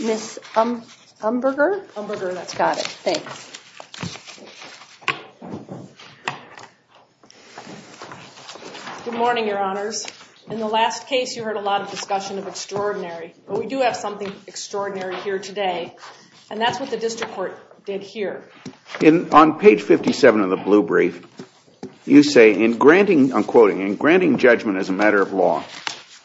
Ms. Umberger? Umberger, that's got it. Thanks. Good morning, Your Honors. In the last case, you heard a lot of discussion of extraordinary, but we do have something extraordinary here today, and that's what the District Court did here. On page 57 of the blue brief, you say, in granting judgment as a matter of law,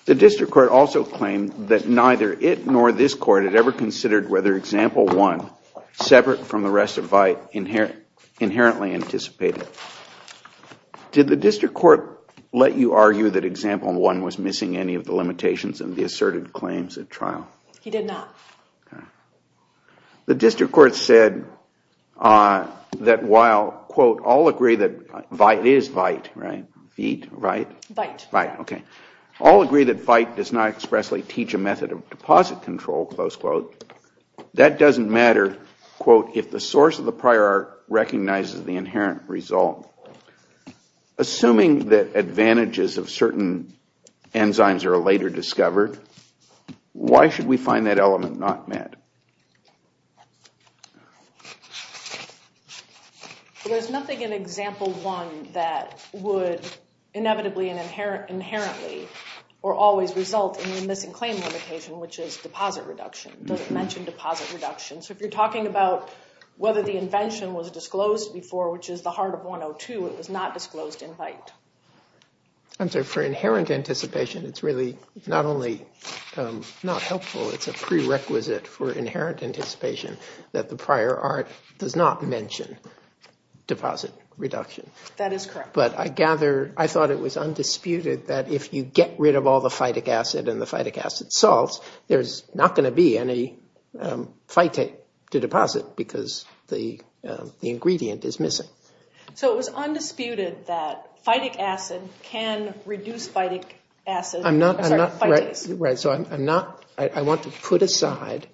the District Court also claimed that neither it nor this Court had ever considered whether Example 1, separate from the rest of VITE, inherently anticipated. Did the District Court let you argue that Example 1 was missing any of the limitations and the asserted claims at trial? He did not. The District Court said that while, quote, all agree that VITE does not expressly teach a method of deposit control, that doesn't matter, quote, if the source of the prior art recognizes the inherent result. Assuming that advantages of certain enzymes are later discovered, why should we find that element not met? There's nothing in Example 1 that would inevitably and inherently or always result in the missing claim limitation, which is deposit reduction. It doesn't mention deposit reduction. If you're talking about whether the invention was disclosed before, which is the heart of 102, it was not disclosed in VITE. I'm sorry, for inherent anticipation, it's really not only not helpful, it's a prerequisite for inherent anticipation that the prior art does not mention deposit reduction. That is correct. But I gather, I thought it was undisputed that if you get rid of all the phytic acid and the phytic acid salts, there's not going to be any phytic to deposit because the ingredient is missing. So it was undisputed that phytic acid can reduce phytic acid. I'm not, I'm not, right, right, so I'm not, I want to put aside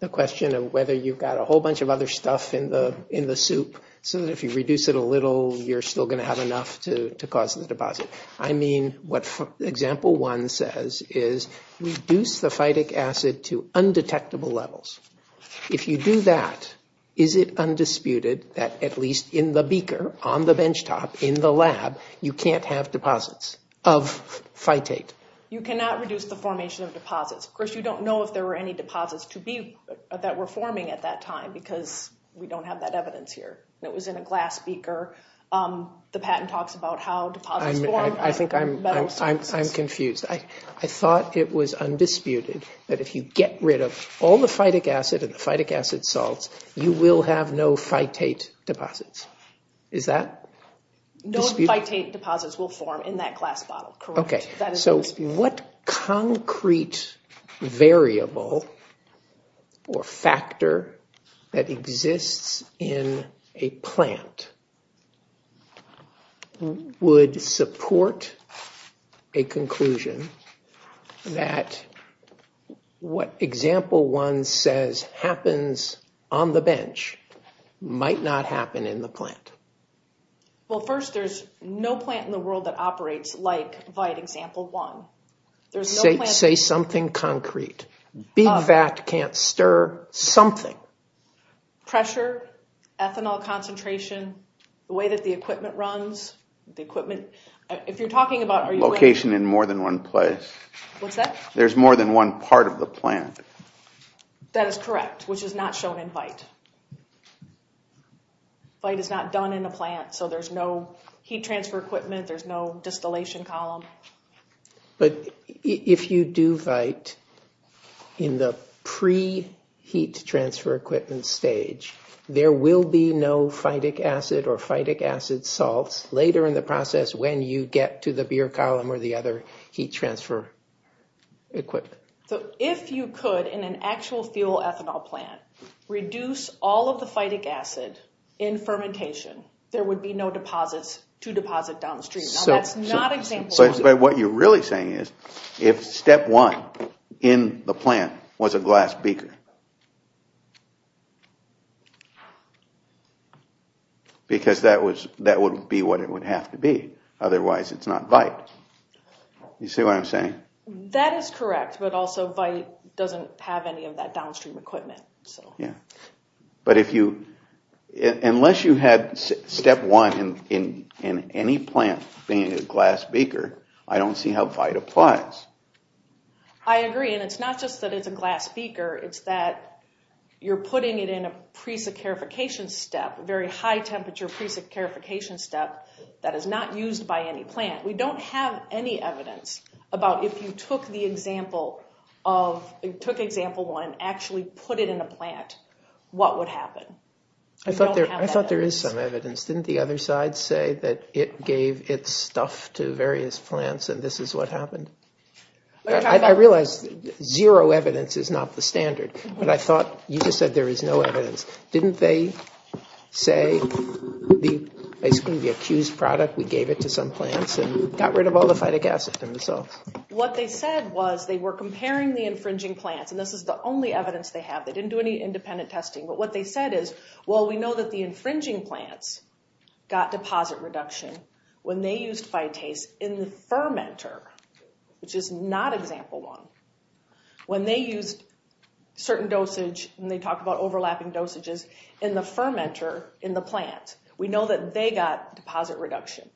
the question of whether you've got a whole bunch of other stuff in the, in the soup, so that if you reduce it a little, you're still going to have enough to cause the deposit. I mean what Example 1 says is reduce the phytic acid to undetectable levels. If you do that, is it undisputed that at least in the beaker, on the benchtop, in the lab, you can't have deposits of phytate? You cannot reduce the formation of deposits. Of course, you don't know if there were any deposits to be, that were forming at that time because we don't have that evidence here. It was in a glass beaker. The patent talks about how that if you get rid of all the phytic acid and the phytic acid salts, you will have no phytate deposits. Is that disputed? No phytate deposits will form in that glass bottle. Okay, so what concrete variable or factor that exists in a plant would support a conclusion that what Example 1 says happens on the bench might not happen in the plant? Well, first, there's no plant in the world that operates like Vite Example 1. Say something concrete. Big fat can't stir something. Pressure, ethanol concentration, the way that the equipment runs, the equipment. If you're talking about location in more than one place, there's more than one part of the plant. That is correct, which is not shown in Vite. Vite is not done in a plant, so there's no heat transfer equipment, there's no distillation column. But if you do Vite in the pre-heat transfer equipment stage, there will be no phytic acid or phytic acid salts later in the process when you get to the beer column or the other heat transfer equipment. So if you could, in an actual fuel ethanol plant, reduce all of the phytic acid in fermentation, there would be no deposits to deposit downstream. That's not what you're really saying is if Step 1 in the plant was a glass beaker. Because that would be what it would have to be, otherwise it's not Vite. You see what I'm saying? That is correct, but also Vite doesn't have any of that downstream equipment. Yeah, but unless you had Step 1 in any plant being a glass beaker, I don't see how Vite applies. I agree, and it's not just that it's a glass beaker, it's that you're putting it in a pre-saccharification step, a very high temperature pre-saccharification step that is not used by any plant. We don't have any evidence about if you took the example of, took example one, actually put it in a plant, what would happen? I thought there is some evidence. Didn't the other side say that it gave its stuff to various plants and this is what happened? I realize zero evidence is not the standard, but I thought you just said there is no evidence. Didn't they say the accused product, we gave it to some plants and got rid of all the infringing plants, and this is the only evidence they have. They didn't do any independent testing, but what they said is, well, we know that the infringing plants got deposit reduction when they used Vitease in the fermenter, which is not example one. When they used certain dosage, and they talk about overlapping dosages, in the fermenter, in the plant, we know that they got deposit reduction.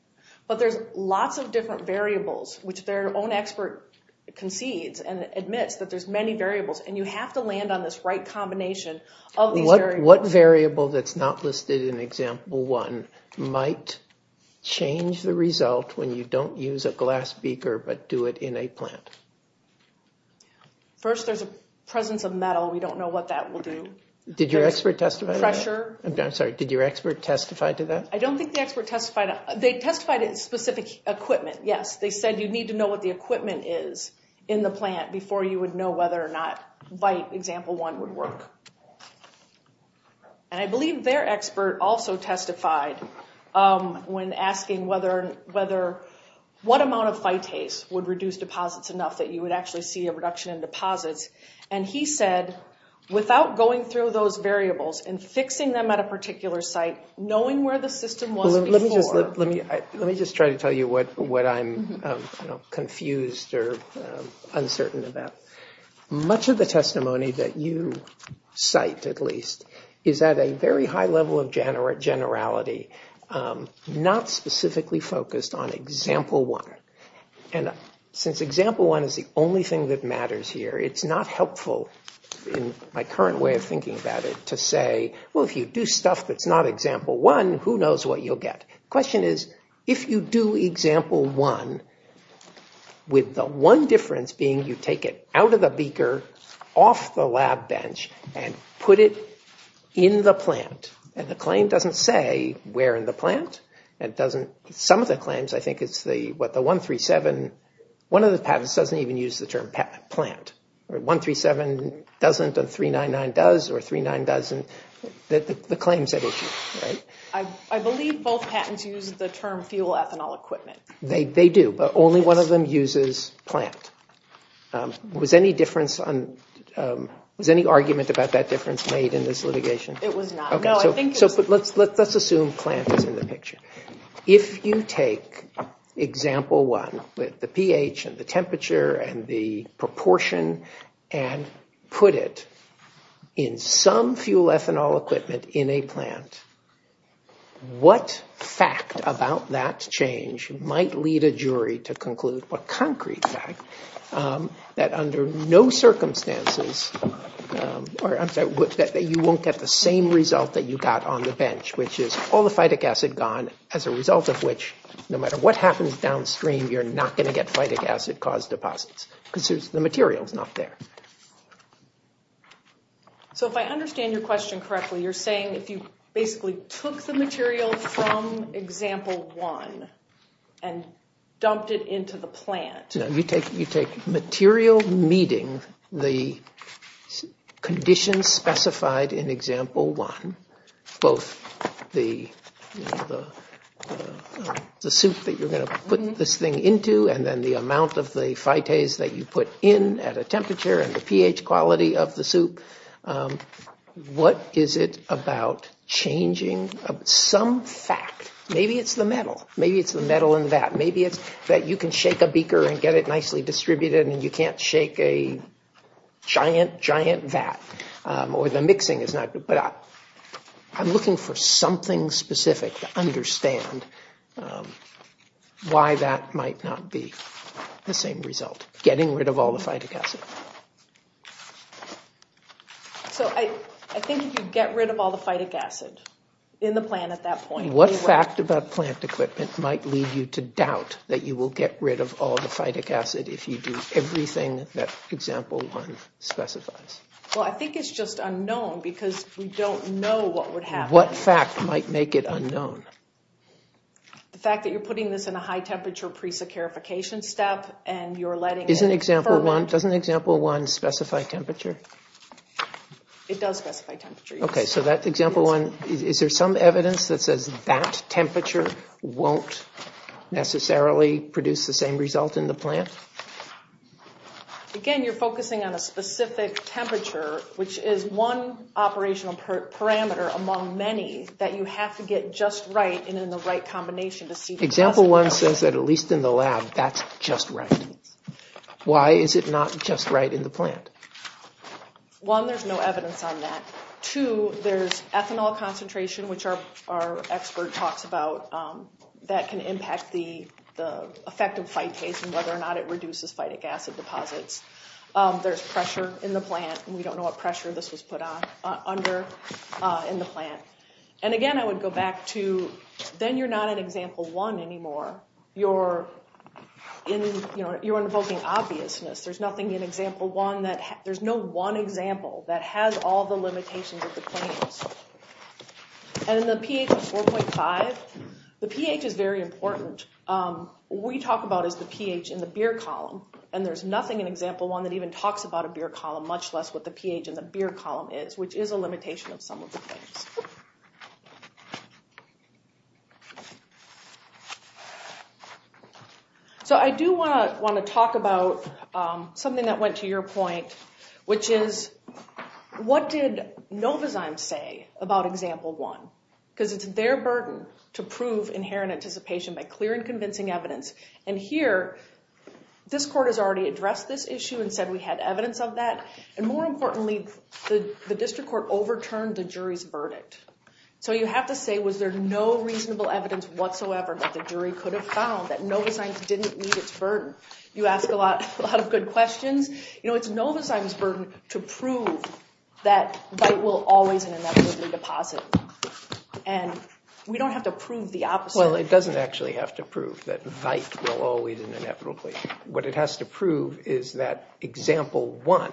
But there's lots of different variables, which their own expert concedes, admits that there's many variables, and you have to land on this right combination of these variables. What variable that's not listed in example one might change the result when you don't use a glass beaker, but do it in a plant? First, there's a presence of metal. We don't know what that will do. Did your expert testify to that? I'm sorry, did your expert testify to that? I don't think the expert testified. They testified it's specific equipment. Yes, they said you need to know what the equipment is in the plant before you would know whether or not Vite, example one, would work. I believe their expert also testified when asking what amount of Vitease would reduce deposits enough that you would actually see a reduction in deposits, and he said, without going through those variables and fixing them at a particular site, knowing where the system wasn't before. Let me just try to tell you what I'm confused or uncertain about. Much of the testimony that you cite, at least, is at a very high level of generality, not specifically focused on example one. And since example one is the only thing that matters here, it's not helpful in my current way of thinking about it to say, well, if you do stuff that's not example one, who knows what you'll get? The question is, if you do example one, with the one difference being you take it out of the beaker, off the lab bench, and put it in the plant, and the claim doesn't say where in the plant. Some of the claims, I think, it's what the 137, one of the patents doesn't even use the term plant. 137 doesn't, and 399 does, or 399 doesn't. The claims that issue, right? I believe both patents use the term fuel ethanol equipment. They do, but only one of them uses plant. Was any argument about that difference made in this litigation? It was not. Okay, so let's assume plant is in the picture. If you take example one with the pH and the temperature and the proportion, and put it in some fuel ethanol equipment in a plant, what fact about that change might lead a jury to conclude, what concrete fact, that under no circumstances, or I'm sorry, that you won't get the same result that you got on the bench, which is all the phytic acid gone, as a result of which, no matter what happens downstream, you're not going to get phytic acid-caused deposits, because the material is not there. So if I understand your question correctly, you're saying if you basically took the material from example one, and dumped it into the plant. No, you take material meeting the conditions specified in example one, both the you put in at a temperature and the pH quality of the soup. What is it about changing some fact? Maybe it's the metal. Maybe it's the metal in that. Maybe it's that you can shake a beaker and get it nicely distributed, and you can't shake a giant, giant vat, or the mixing is not. I'm looking for something specific to understand why that might not be the same result. Getting rid of all the phytic acid. So I think you'd get rid of all the phytic acid in the plant at that point. What fact about plant equipment might lead you to doubt that you will get rid of all the phytic acid if you do everything that example one specifies? Well, I think it's just unknown, because we don't know what would happen. What fact might make it unknown? The fact that you're putting this in a high temperature pre-securification step, and you're letting it ferment. Doesn't example one specify temperature? It does specify temperature, yes. Okay, so that example one, is there some evidence that says that temperature won't necessarily produce the same result in the plant? Again, you're focusing on a specific temperature, which is one operational parameter among many that you have to get just right and in the right combination to see. Example one says that at least in the lab, that's just right. Why is it not just right in the plant? One, there's no evidence on that. Two, there's ethanol concentration, which our expert talks about, that can impact the effect of phytase and whether or not it reduces phytic acid deposits. There's pressure in the plant, and we don't know what pressure this was put under in the plant. Again, I would go back to, then you're not in example one anymore. You're invoking obviousness. There's nothing in example one, there's no one example that has all the limitations of the plants. In the pH of 4.5, the pH is very important. What we talk about is the pH in the beer column. There's nothing in example one that even talks about a beer column, much less what the pH in the beer column is, which is a limitation of some of the plants. I do want to talk about something that went to your point, which is, what did Novozyme say about example one? Because it's their burden to prove inherent anticipation by clear and convincing evidence. Here, this court has already addressed this issue and said we had evidence of that. More importantly, the district court overturned the jury's verdict. You have to say, was there no reasonable evidence whatsoever that the jury could have found that Novozyme didn't meet its burden? You ask a lot of good questions. It's Novozyme's burden to prove that vite will always and inevitably deposit. We don't have to prove the opposite. It doesn't actually have to prove that vite will always and inevitably. What it has to prove is that example one,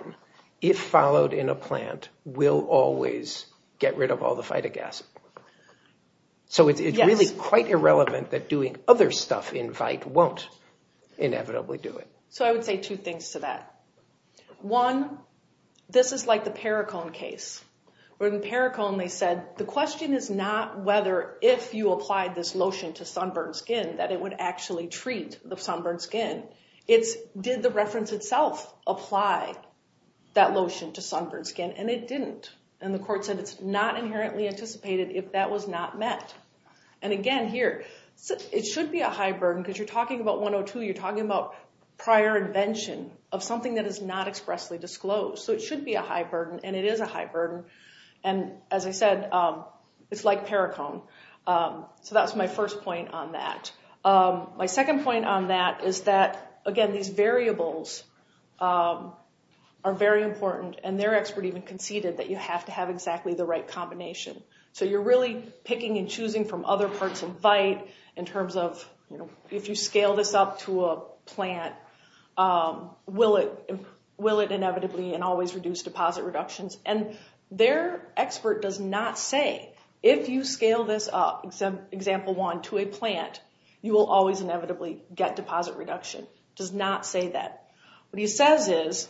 if followed in a plant, will always get rid of all the phytogasm. So it's really quite irrelevant that doing other stuff in vite won't inevitably do it. So I would say two things to that. One, this is like the Paracone case. Where in Paracone, they said, the question is not whether if you applied this lotion to sunburned skin that it would actually treat the sunburned skin. Did the reference itself apply that lotion to sunburned skin? And it didn't. And the court said it's not inherently anticipated if that was not met. And again, here, it should be a high burden. Because you're talking about 102. You're talking about prior invention of something that is not expressly disclosed. So it should be a high burden. And it is a high burden. And as I said, it's like Paracone. So that's my first point on that. My second point on that is that, again, these variables are very important. And their expert even conceded that you have to have exactly the right combination. So you're really picking and choosing from other parts of vite in terms of, if you scale this up to a plant, will it inevitably and always reduce deposit reductions? And their expert does not say, if you scale this up, example one, to a plant, you will always inevitably get deposit reduction. It does not say that. What he says is,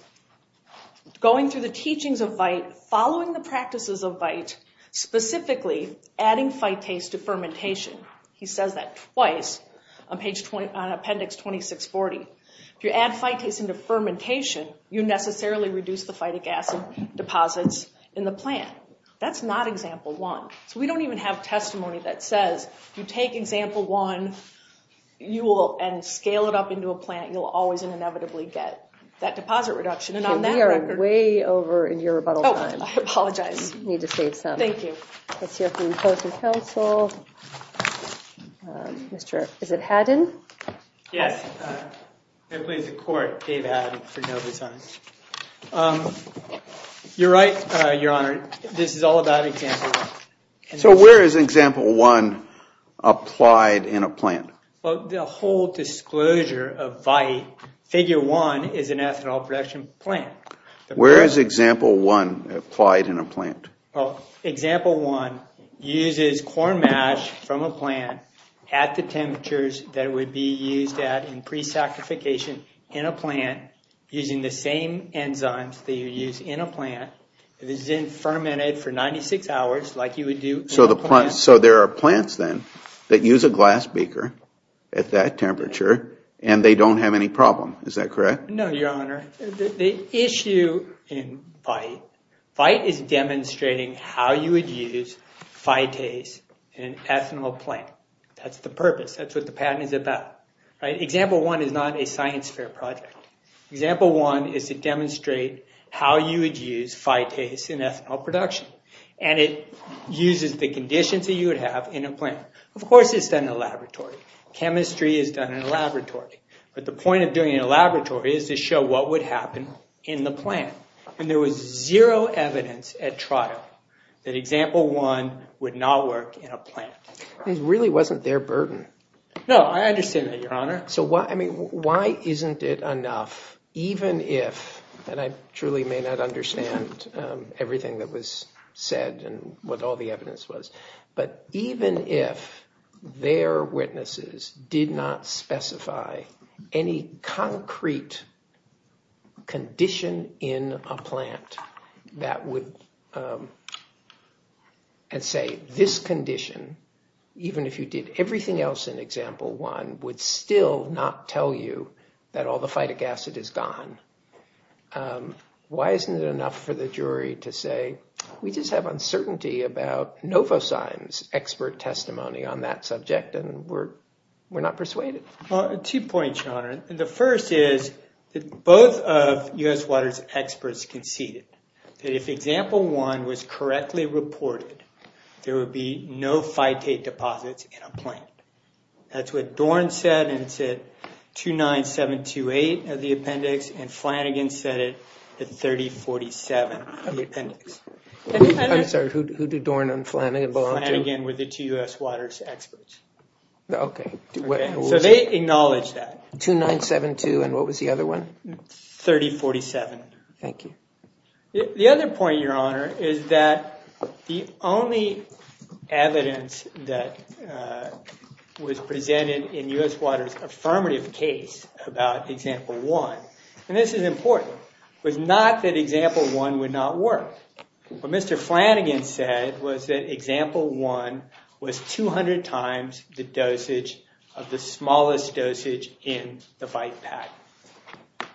going through the teachings of vite, following the practices of vite, specifically adding phytase to fermentation. He says that twice on appendix 2640. If you add phytase into fermentation, you necessarily reduce the phytic acid deposits in the plant. That's not example one. So we don't even have testimony that says, you take example one and scale it up into a plant, you'll always and inevitably get that deposit reduction. And on that record— We are way over in your rebuttal time. Oh, I apologize. Need to save some. Thank you. Let's hear from the opposing counsel. Mr. — is it Haddon? Yes. I plead the court, Dave Haddon, for no dissent. You're right, Your Honor. This is all about example one. So where is example one applied in a plant? Well, the whole disclosure of vite, figure one is an ethanol production plant. Where is example one applied in a plant? Well, example one uses corn mash from a plant at the temperatures that it would be used at in pre-sacrification in a plant, using the same enzymes that you use in a plant. It is then fermented for 96 hours, like you would do— So there are plants then that use a glass beaker at that temperature and they don't have any problem. Is that correct? No, Your Honor. The issue in vite is demonstrating how you would use phytase in an ethanol plant. That's the purpose. That's what the patent is about. Example one is not a science fair project. Example one is to demonstrate how you would use phytase in ethanol production. And it uses the conditions that you would have in a plant. Of course, it's done in a laboratory. Chemistry is done in a laboratory. But the point of doing it in a laboratory is to show what would happen in the plant. And there was zero evidence at trial that example one would not work in a plant. It really wasn't their burden. No, I understand that, Your Honor. So why isn't it enough, even if— said and what all the evidence was— but even if their witnesses did not specify any concrete condition in a plant that would— and say this condition, even if you did everything else in example one, would still not tell you that all the phytic acid is gone. Why isn't it enough for the jury to say, we just have uncertainty about NovoCyme's expert testimony on that subject, and we're not persuaded? Well, two points, Your Honor. The first is that both of U.S. Water's experts conceded that if example one was correctly reported, there would be no phytate deposits in a plant. That's what Dorn said, and it's at 29728 of the appendix, and Flanagan said it at 3047 of the appendix. I'm sorry, who did Dorn and Flanagan belong to? Flanagan were the two U.S. Water's experts. Okay. So they acknowledged that. 2972, and what was the other one? 3047. Thank you. The other point, Your Honor, is that the only evidence that was presented in U.S. Water's affirmative case about example one, and this is important, was not that example one would not work. What Mr. Flanagan said was that example one was 200 times the dosage of the smallest dosage in the bite pack.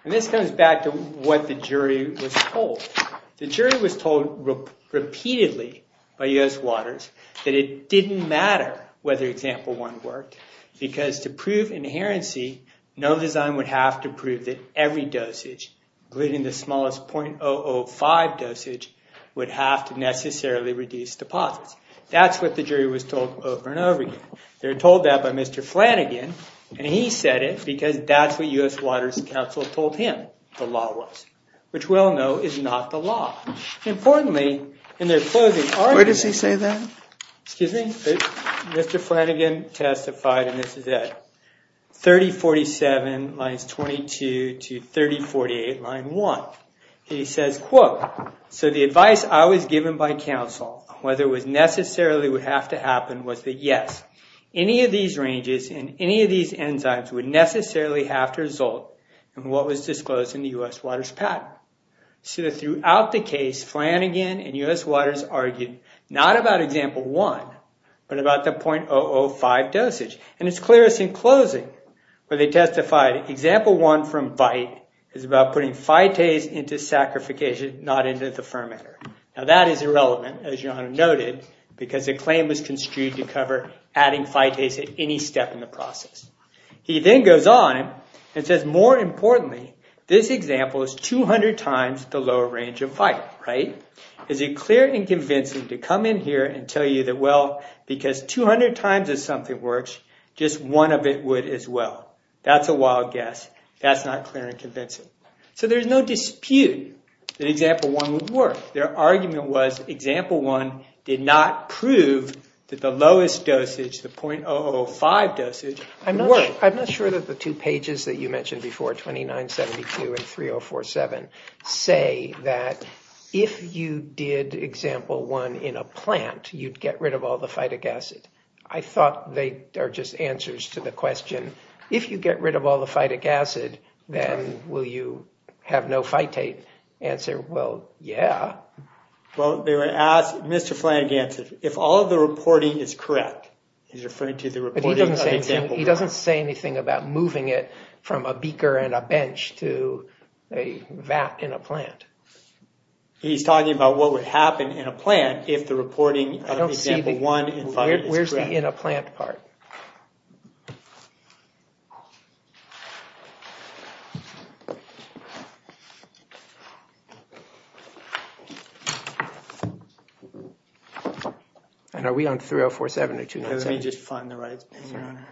And this comes back to what the jury was told. The jury was told repeatedly by U.S. Water's that it didn't matter whether example one worked because to prove inherency, no design would have to prove that every dosage, including the smallest .005 dosage, would have to necessarily reduce deposits. That's what the jury was told over and over again. They were told that by Mr. Flanagan, and he said it because that's what U.S. Water's counsel told him the law was, which we all know is not the law. Importantly, in their closing argument- Where does he say that? Excuse me? Mr. Flanagan testified, and this is at 3047 lines 22 to 3048 line 1. He says, quote, So the advice I was given by counsel, whether it necessarily would have to happen, was that yes, any of these ranges and any of these enzymes would necessarily have to result in what was disclosed in the U.S. Water's patent. So throughout the case, Flanagan and U.S. Water's argued not about example one, but about the .005 dosage. And it's clearest in closing where they testified, example one from bite is about putting phytase into sacrification, not into the fermenter. Now that is irrelevant, as John noted, because the claim was construed to cover adding phytase at any step in the process. He then goes on and says, More importantly, this example is 200 times the lower range of bite, right? Is it clear and convincing to come in here and tell you that, well, because 200 times if something works, just one of it would as well? That's a wild guess. That's not clear and convincing. So there's no dispute that example one would work. Their argument was example one did not prove that the lowest dosage, the .005 dosage, worked. I'm not sure that the two pages that you mentioned before, 2972 and 3047, say that if you did example one in a plant, you'd get rid of all the phytic acid. I thought they are just answers to the question, if you get rid of all the phytic acid, then will you have no phytate? Answer, well, yeah. Well, they were asked, Mr. Flanagan, if all of the reporting is correct, he's referring to the reporting of example one. He doesn't say anything about moving it from a beaker and a bench to a vat in a plant. He's talking about what would happen in a plant if the reporting of example one is correct. Where's the in a plant part? And are we on 3047 or 297? Let me just find the right thing here,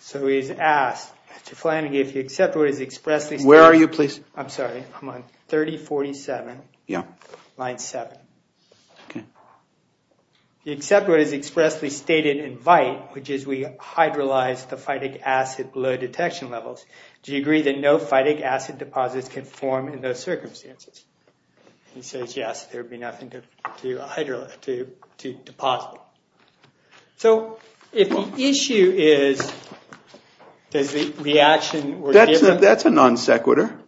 So he's asked, Mr. Flanagan, if you accept what is expressly stated in VITE, which is we hydrolyze the phytic acid below detection levels, do you agree that no phytic acid deposits can form in those circumstances? He says, yes, there'd be nothing to deposit. So if the issue is, does the reaction... That's a non sequitur.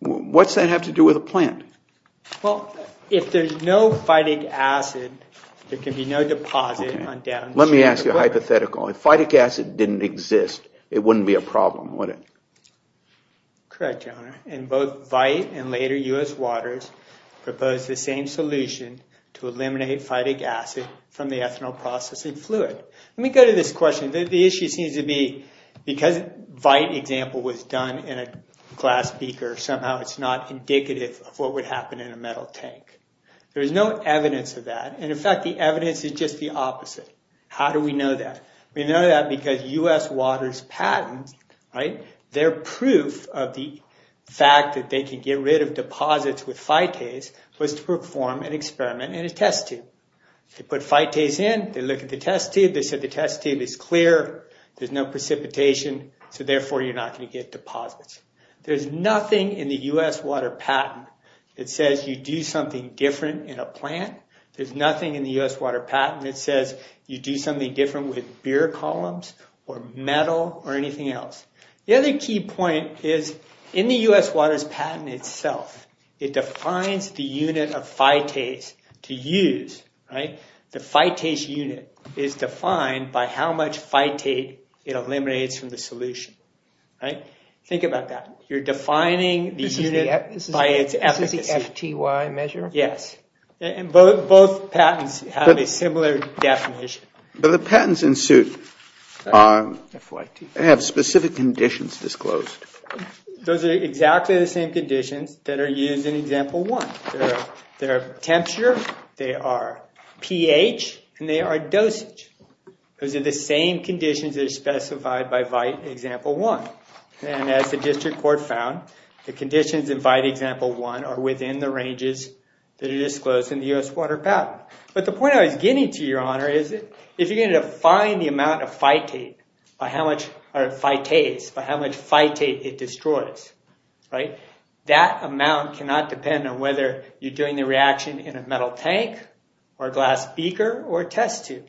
What's that have to do with a plant? Well, if there's no phytic acid, there can be no deposit on downstream. Let me ask you a hypothetical. If phytic acid didn't exist, it wouldn't be a problem, would it? Correct, Your Honor. And both VITE and later US Waters proposed the same solution to eliminate phytic acid from the ethanol processing fluid. Let me go to this question. The issue seems to be because VITE example was done in a glass beaker, somehow it's not indicative of what would happen in a metal tank. There is no evidence of that. And in fact, the evidence is just the opposite. How do we know that? We know that because US Waters patent, right? Their proof of the fact that they can get rid of deposits with phytase was to perform an experiment in a test tube. They put phytase in, they look at the test tube, they said the test tube is clear, there's no precipitation, so therefore you're not going to get deposits. There's nothing in the US Water patent that says you do something different in a plant. There's nothing in the US Water patent that says you do something different with beer columns or metal or anything else. The other key point is in the US Waters patent itself, it defines the unit of phytase to use, right? The phytase unit is defined by how much phytate it eliminates from the solution, right? Think about that. You're defining the unit by its efficacy. This is the FTY measure? Yes, and both patents have a similar definition. But the patents in suit have specific conditions disclosed. Those are exactly the same conditions that are used in Example 1. They are temperature, they are pH, and they are dosage. Those are the same conditions that are specified by VITE Example 1. And as the district court found, the conditions in VITE Example 1 are within the ranges that are disclosed in the US Water patent. But the point I was getting to, Your Honor, is if you're going to define the amount of phytate, by how much phytase, by how much phytate it destroys, right? That amount cannot depend on whether you're doing the reaction in a metal tank or a glass beaker or a test tube,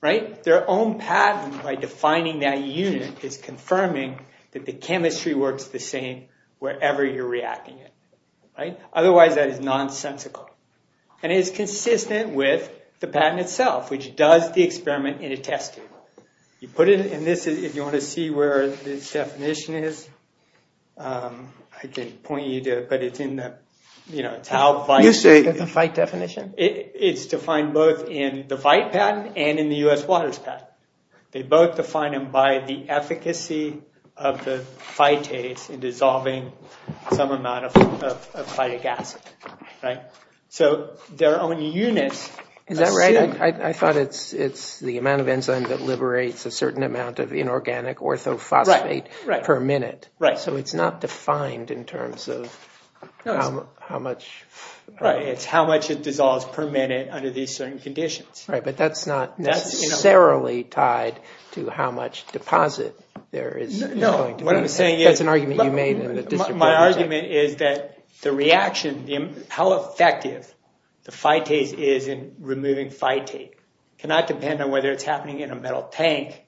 right? Their own patent, by defining that unit, is confirming that the chemistry works the same wherever you're reacting it, right? Otherwise, that is nonsensical. And it is consistent with the patent itself, which does the experiment in a test tube. You put it in this, if you want to see where this definition is, I can point you to it, but it's in the, you know, it's how VITE- You say the VITE definition? It's defined both in the VITE patent and in the US Waters patent. They both define them by the efficacy of the phytase in dissolving some amount of phytic acid, right? So their own units- Is that right? I thought it's the amount of enzyme that liberates a certain amount of inorganic orthophosphate per minute, right? So it's not defined in terms of how much- Right, it's how much it dissolves per minute under these certain conditions. Right, but that's not necessarily tied to how much deposit there is. No, what I'm saying is- My argument is that the reaction, how effective the phytase is in removing phytate, cannot depend on whether it's happening in a metal tank,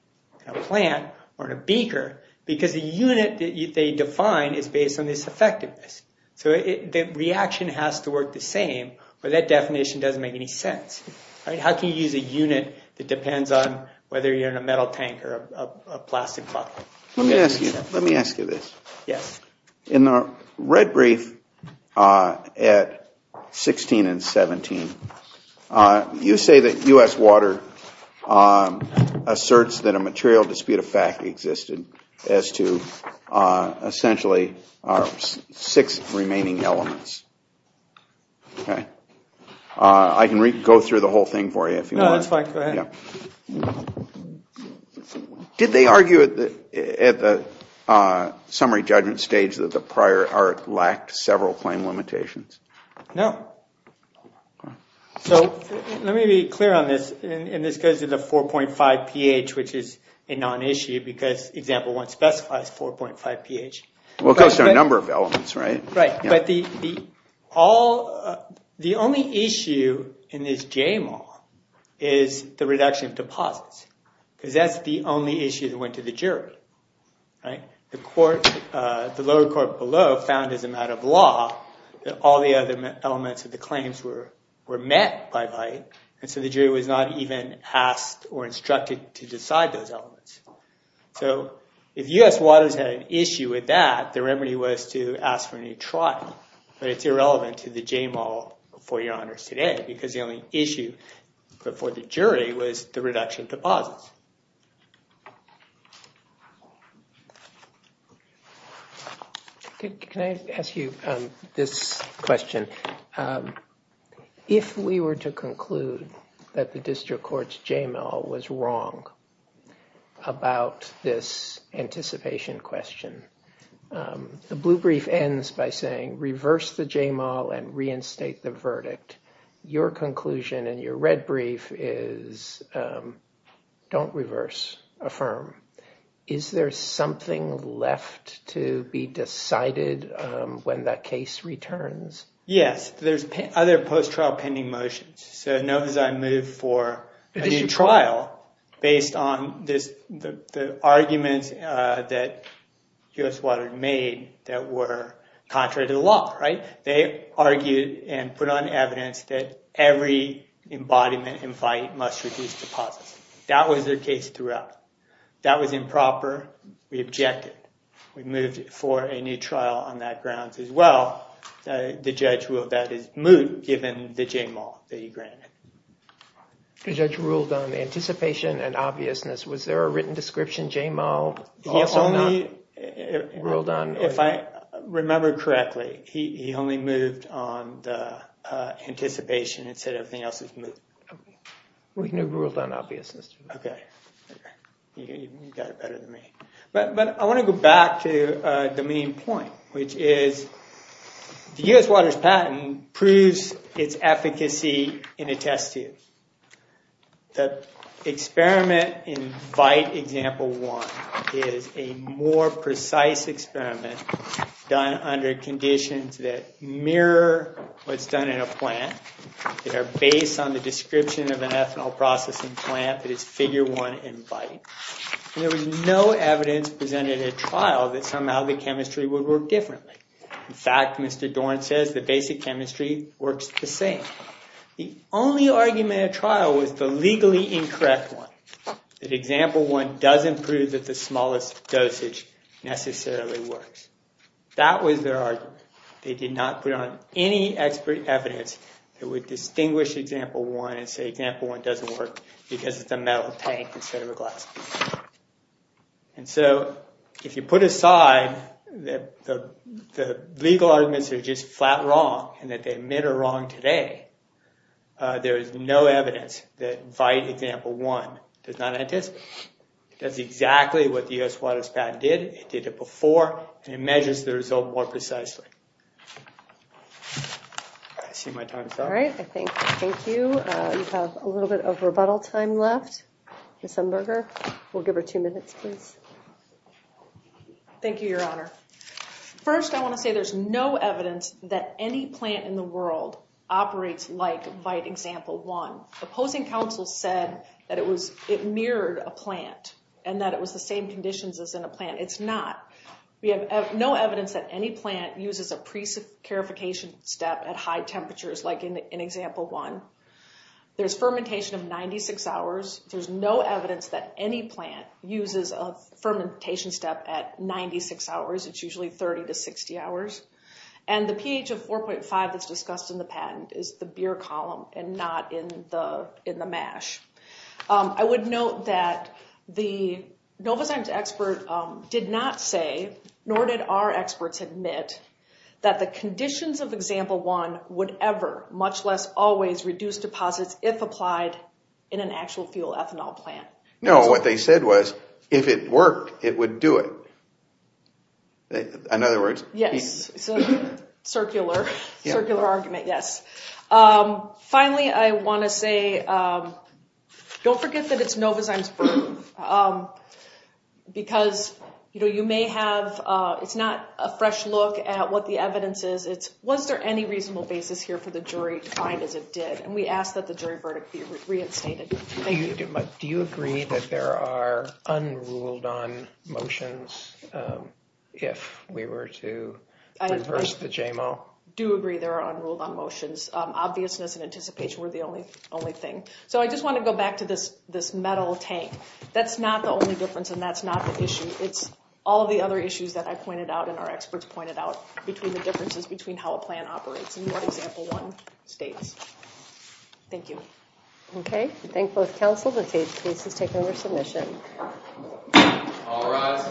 in a plant, or in a beaker, because the unit that they define is based on this effectiveness. So the reaction has to work the same, but that definition doesn't make any sense, right? How can you use a unit that depends on whether you're in a metal tank or a plastic bottle? Let me ask you this. In the Red Brief at 16 and 17, you say that U.S. Water asserts that a material dispute of fact existed as to essentially our six remaining elements. I can go through the whole thing for you if you want. No, that's fine, go ahead. Did they argue at the summary judgment stage that the prior art lacked several claim limitations? No. So let me be clear on this, and this goes to the 4.5 pH, which is a non-issue, because example one specifies 4.5 pH. Well, it goes to a number of elements, right? But the only issue in this JMAL is the reduction of deposits, because that's the only issue that went to the jury, right? The lower court below found, as a matter of law, that all the other elements of the claims were met by bite, and so the jury was not even asked or instructed to decide those elements. So if U.S. Waters had an issue with that, the remedy was to ask for a new trial, but it's irrelevant to the JMAL for your honors today, because the only issue for the jury was the reduction of deposits. Can I ask you this question? If we were to conclude that the district court's JMAL was wrong, about this anticipation question, the blue brief ends by saying, reverse the JMAL and reinstate the verdict. Your conclusion in your red brief is, don't reverse, affirm. Is there something left to be decided when that case returns? Yes, there's other post-trial pending motions. So notice I moved for a new trial based on the arguments that U.S. Waters made that were contrary to the law, right? They argued and put on evidence that every embodiment in fight must reduce deposits. That was their case throughout. That was improper. We objected. We moved for a new trial on that grounds as well. The judge ruled that is moot, given the JMAL that he granted. The judge ruled on anticipation and obviousness. Was there a written description, JMAL, also not ruled on? If I remember correctly, he only moved on the anticipation, instead of everything else was moot. We knew it ruled on obviousness. OK, you got it better than me. But I want to go back to the main point, which is the U.S. Waters patent proves its efficacy in a test tube. The experiment in bite example one is a more precise experiment done under conditions that mirror what's done in a plant, that are based on the description of an ethanol processing plant that is figure one in bite. There was no evidence presented at trial that somehow the chemistry would work differently. In fact, Mr. Dorn says the basic chemistry works the same. The only argument at trial was the legally incorrect one, that example one doesn't prove that the smallest dosage necessarily works. That was their argument. They did not put on any expert evidence that would distinguish example one and say example one doesn't work because it's a metal tank instead of a glass. And so if you put aside that the legal arguments are just flat wrong and that they admit are wrong today, there is no evidence that bite example one does not anticipate. It does exactly what the U.S. Waters patent did. It did it before and it measures the result more precisely. I see my time is up. All right, I think. Thank you. You have a little bit of rebuttal time left, Ms. Umberger. We'll give her two minutes, please. Thank you, Your Honor. First, I want to say there's no evidence that any plant in the world operates like bite example one. Opposing counsel said that it was it mirrored a plant and that it was the same conditions as in a plant. It's not. We have no evidence that any plant uses a precarification step at high temperatures like in example one. There's fermentation of 96 hours. There's no evidence that any plant uses a fermentation step at 96 hours. It's usually 30 to 60 hours. And the pH of 4.5 that's discussed in the patent is the beer column and not in the in the mash. I would note that the Novozymes expert did not say, nor did our experts admit, that the conditions of example one would ever, much less always, reduce deposits if applied in an actual fuel ethanol plant. No, what they said was, if it worked, it would do it. In other words, yes. Circular. Circular argument, yes. Finally, I want to say, don't forget that it's Novozymes. Because, you know, you may have, it's not a fresh look at what the evidence is. Was there any reasonable basis here for the jury to find as it did? And we ask that the jury verdict be reinstated. Thank you. Do you agree that there are unruled-on motions if we were to reverse the JMO? I do agree there are unruled-on motions. Obviousness and anticipation were the only thing. So I just want to go back to this metal tank. That's not the only difference and that's not the issue. It's all the other issues that I pointed out and our experts pointed out between the differences between how a plan operates and what example one states. Thank you. Okay. I thank both counsel. The case has taken over submission. All rise.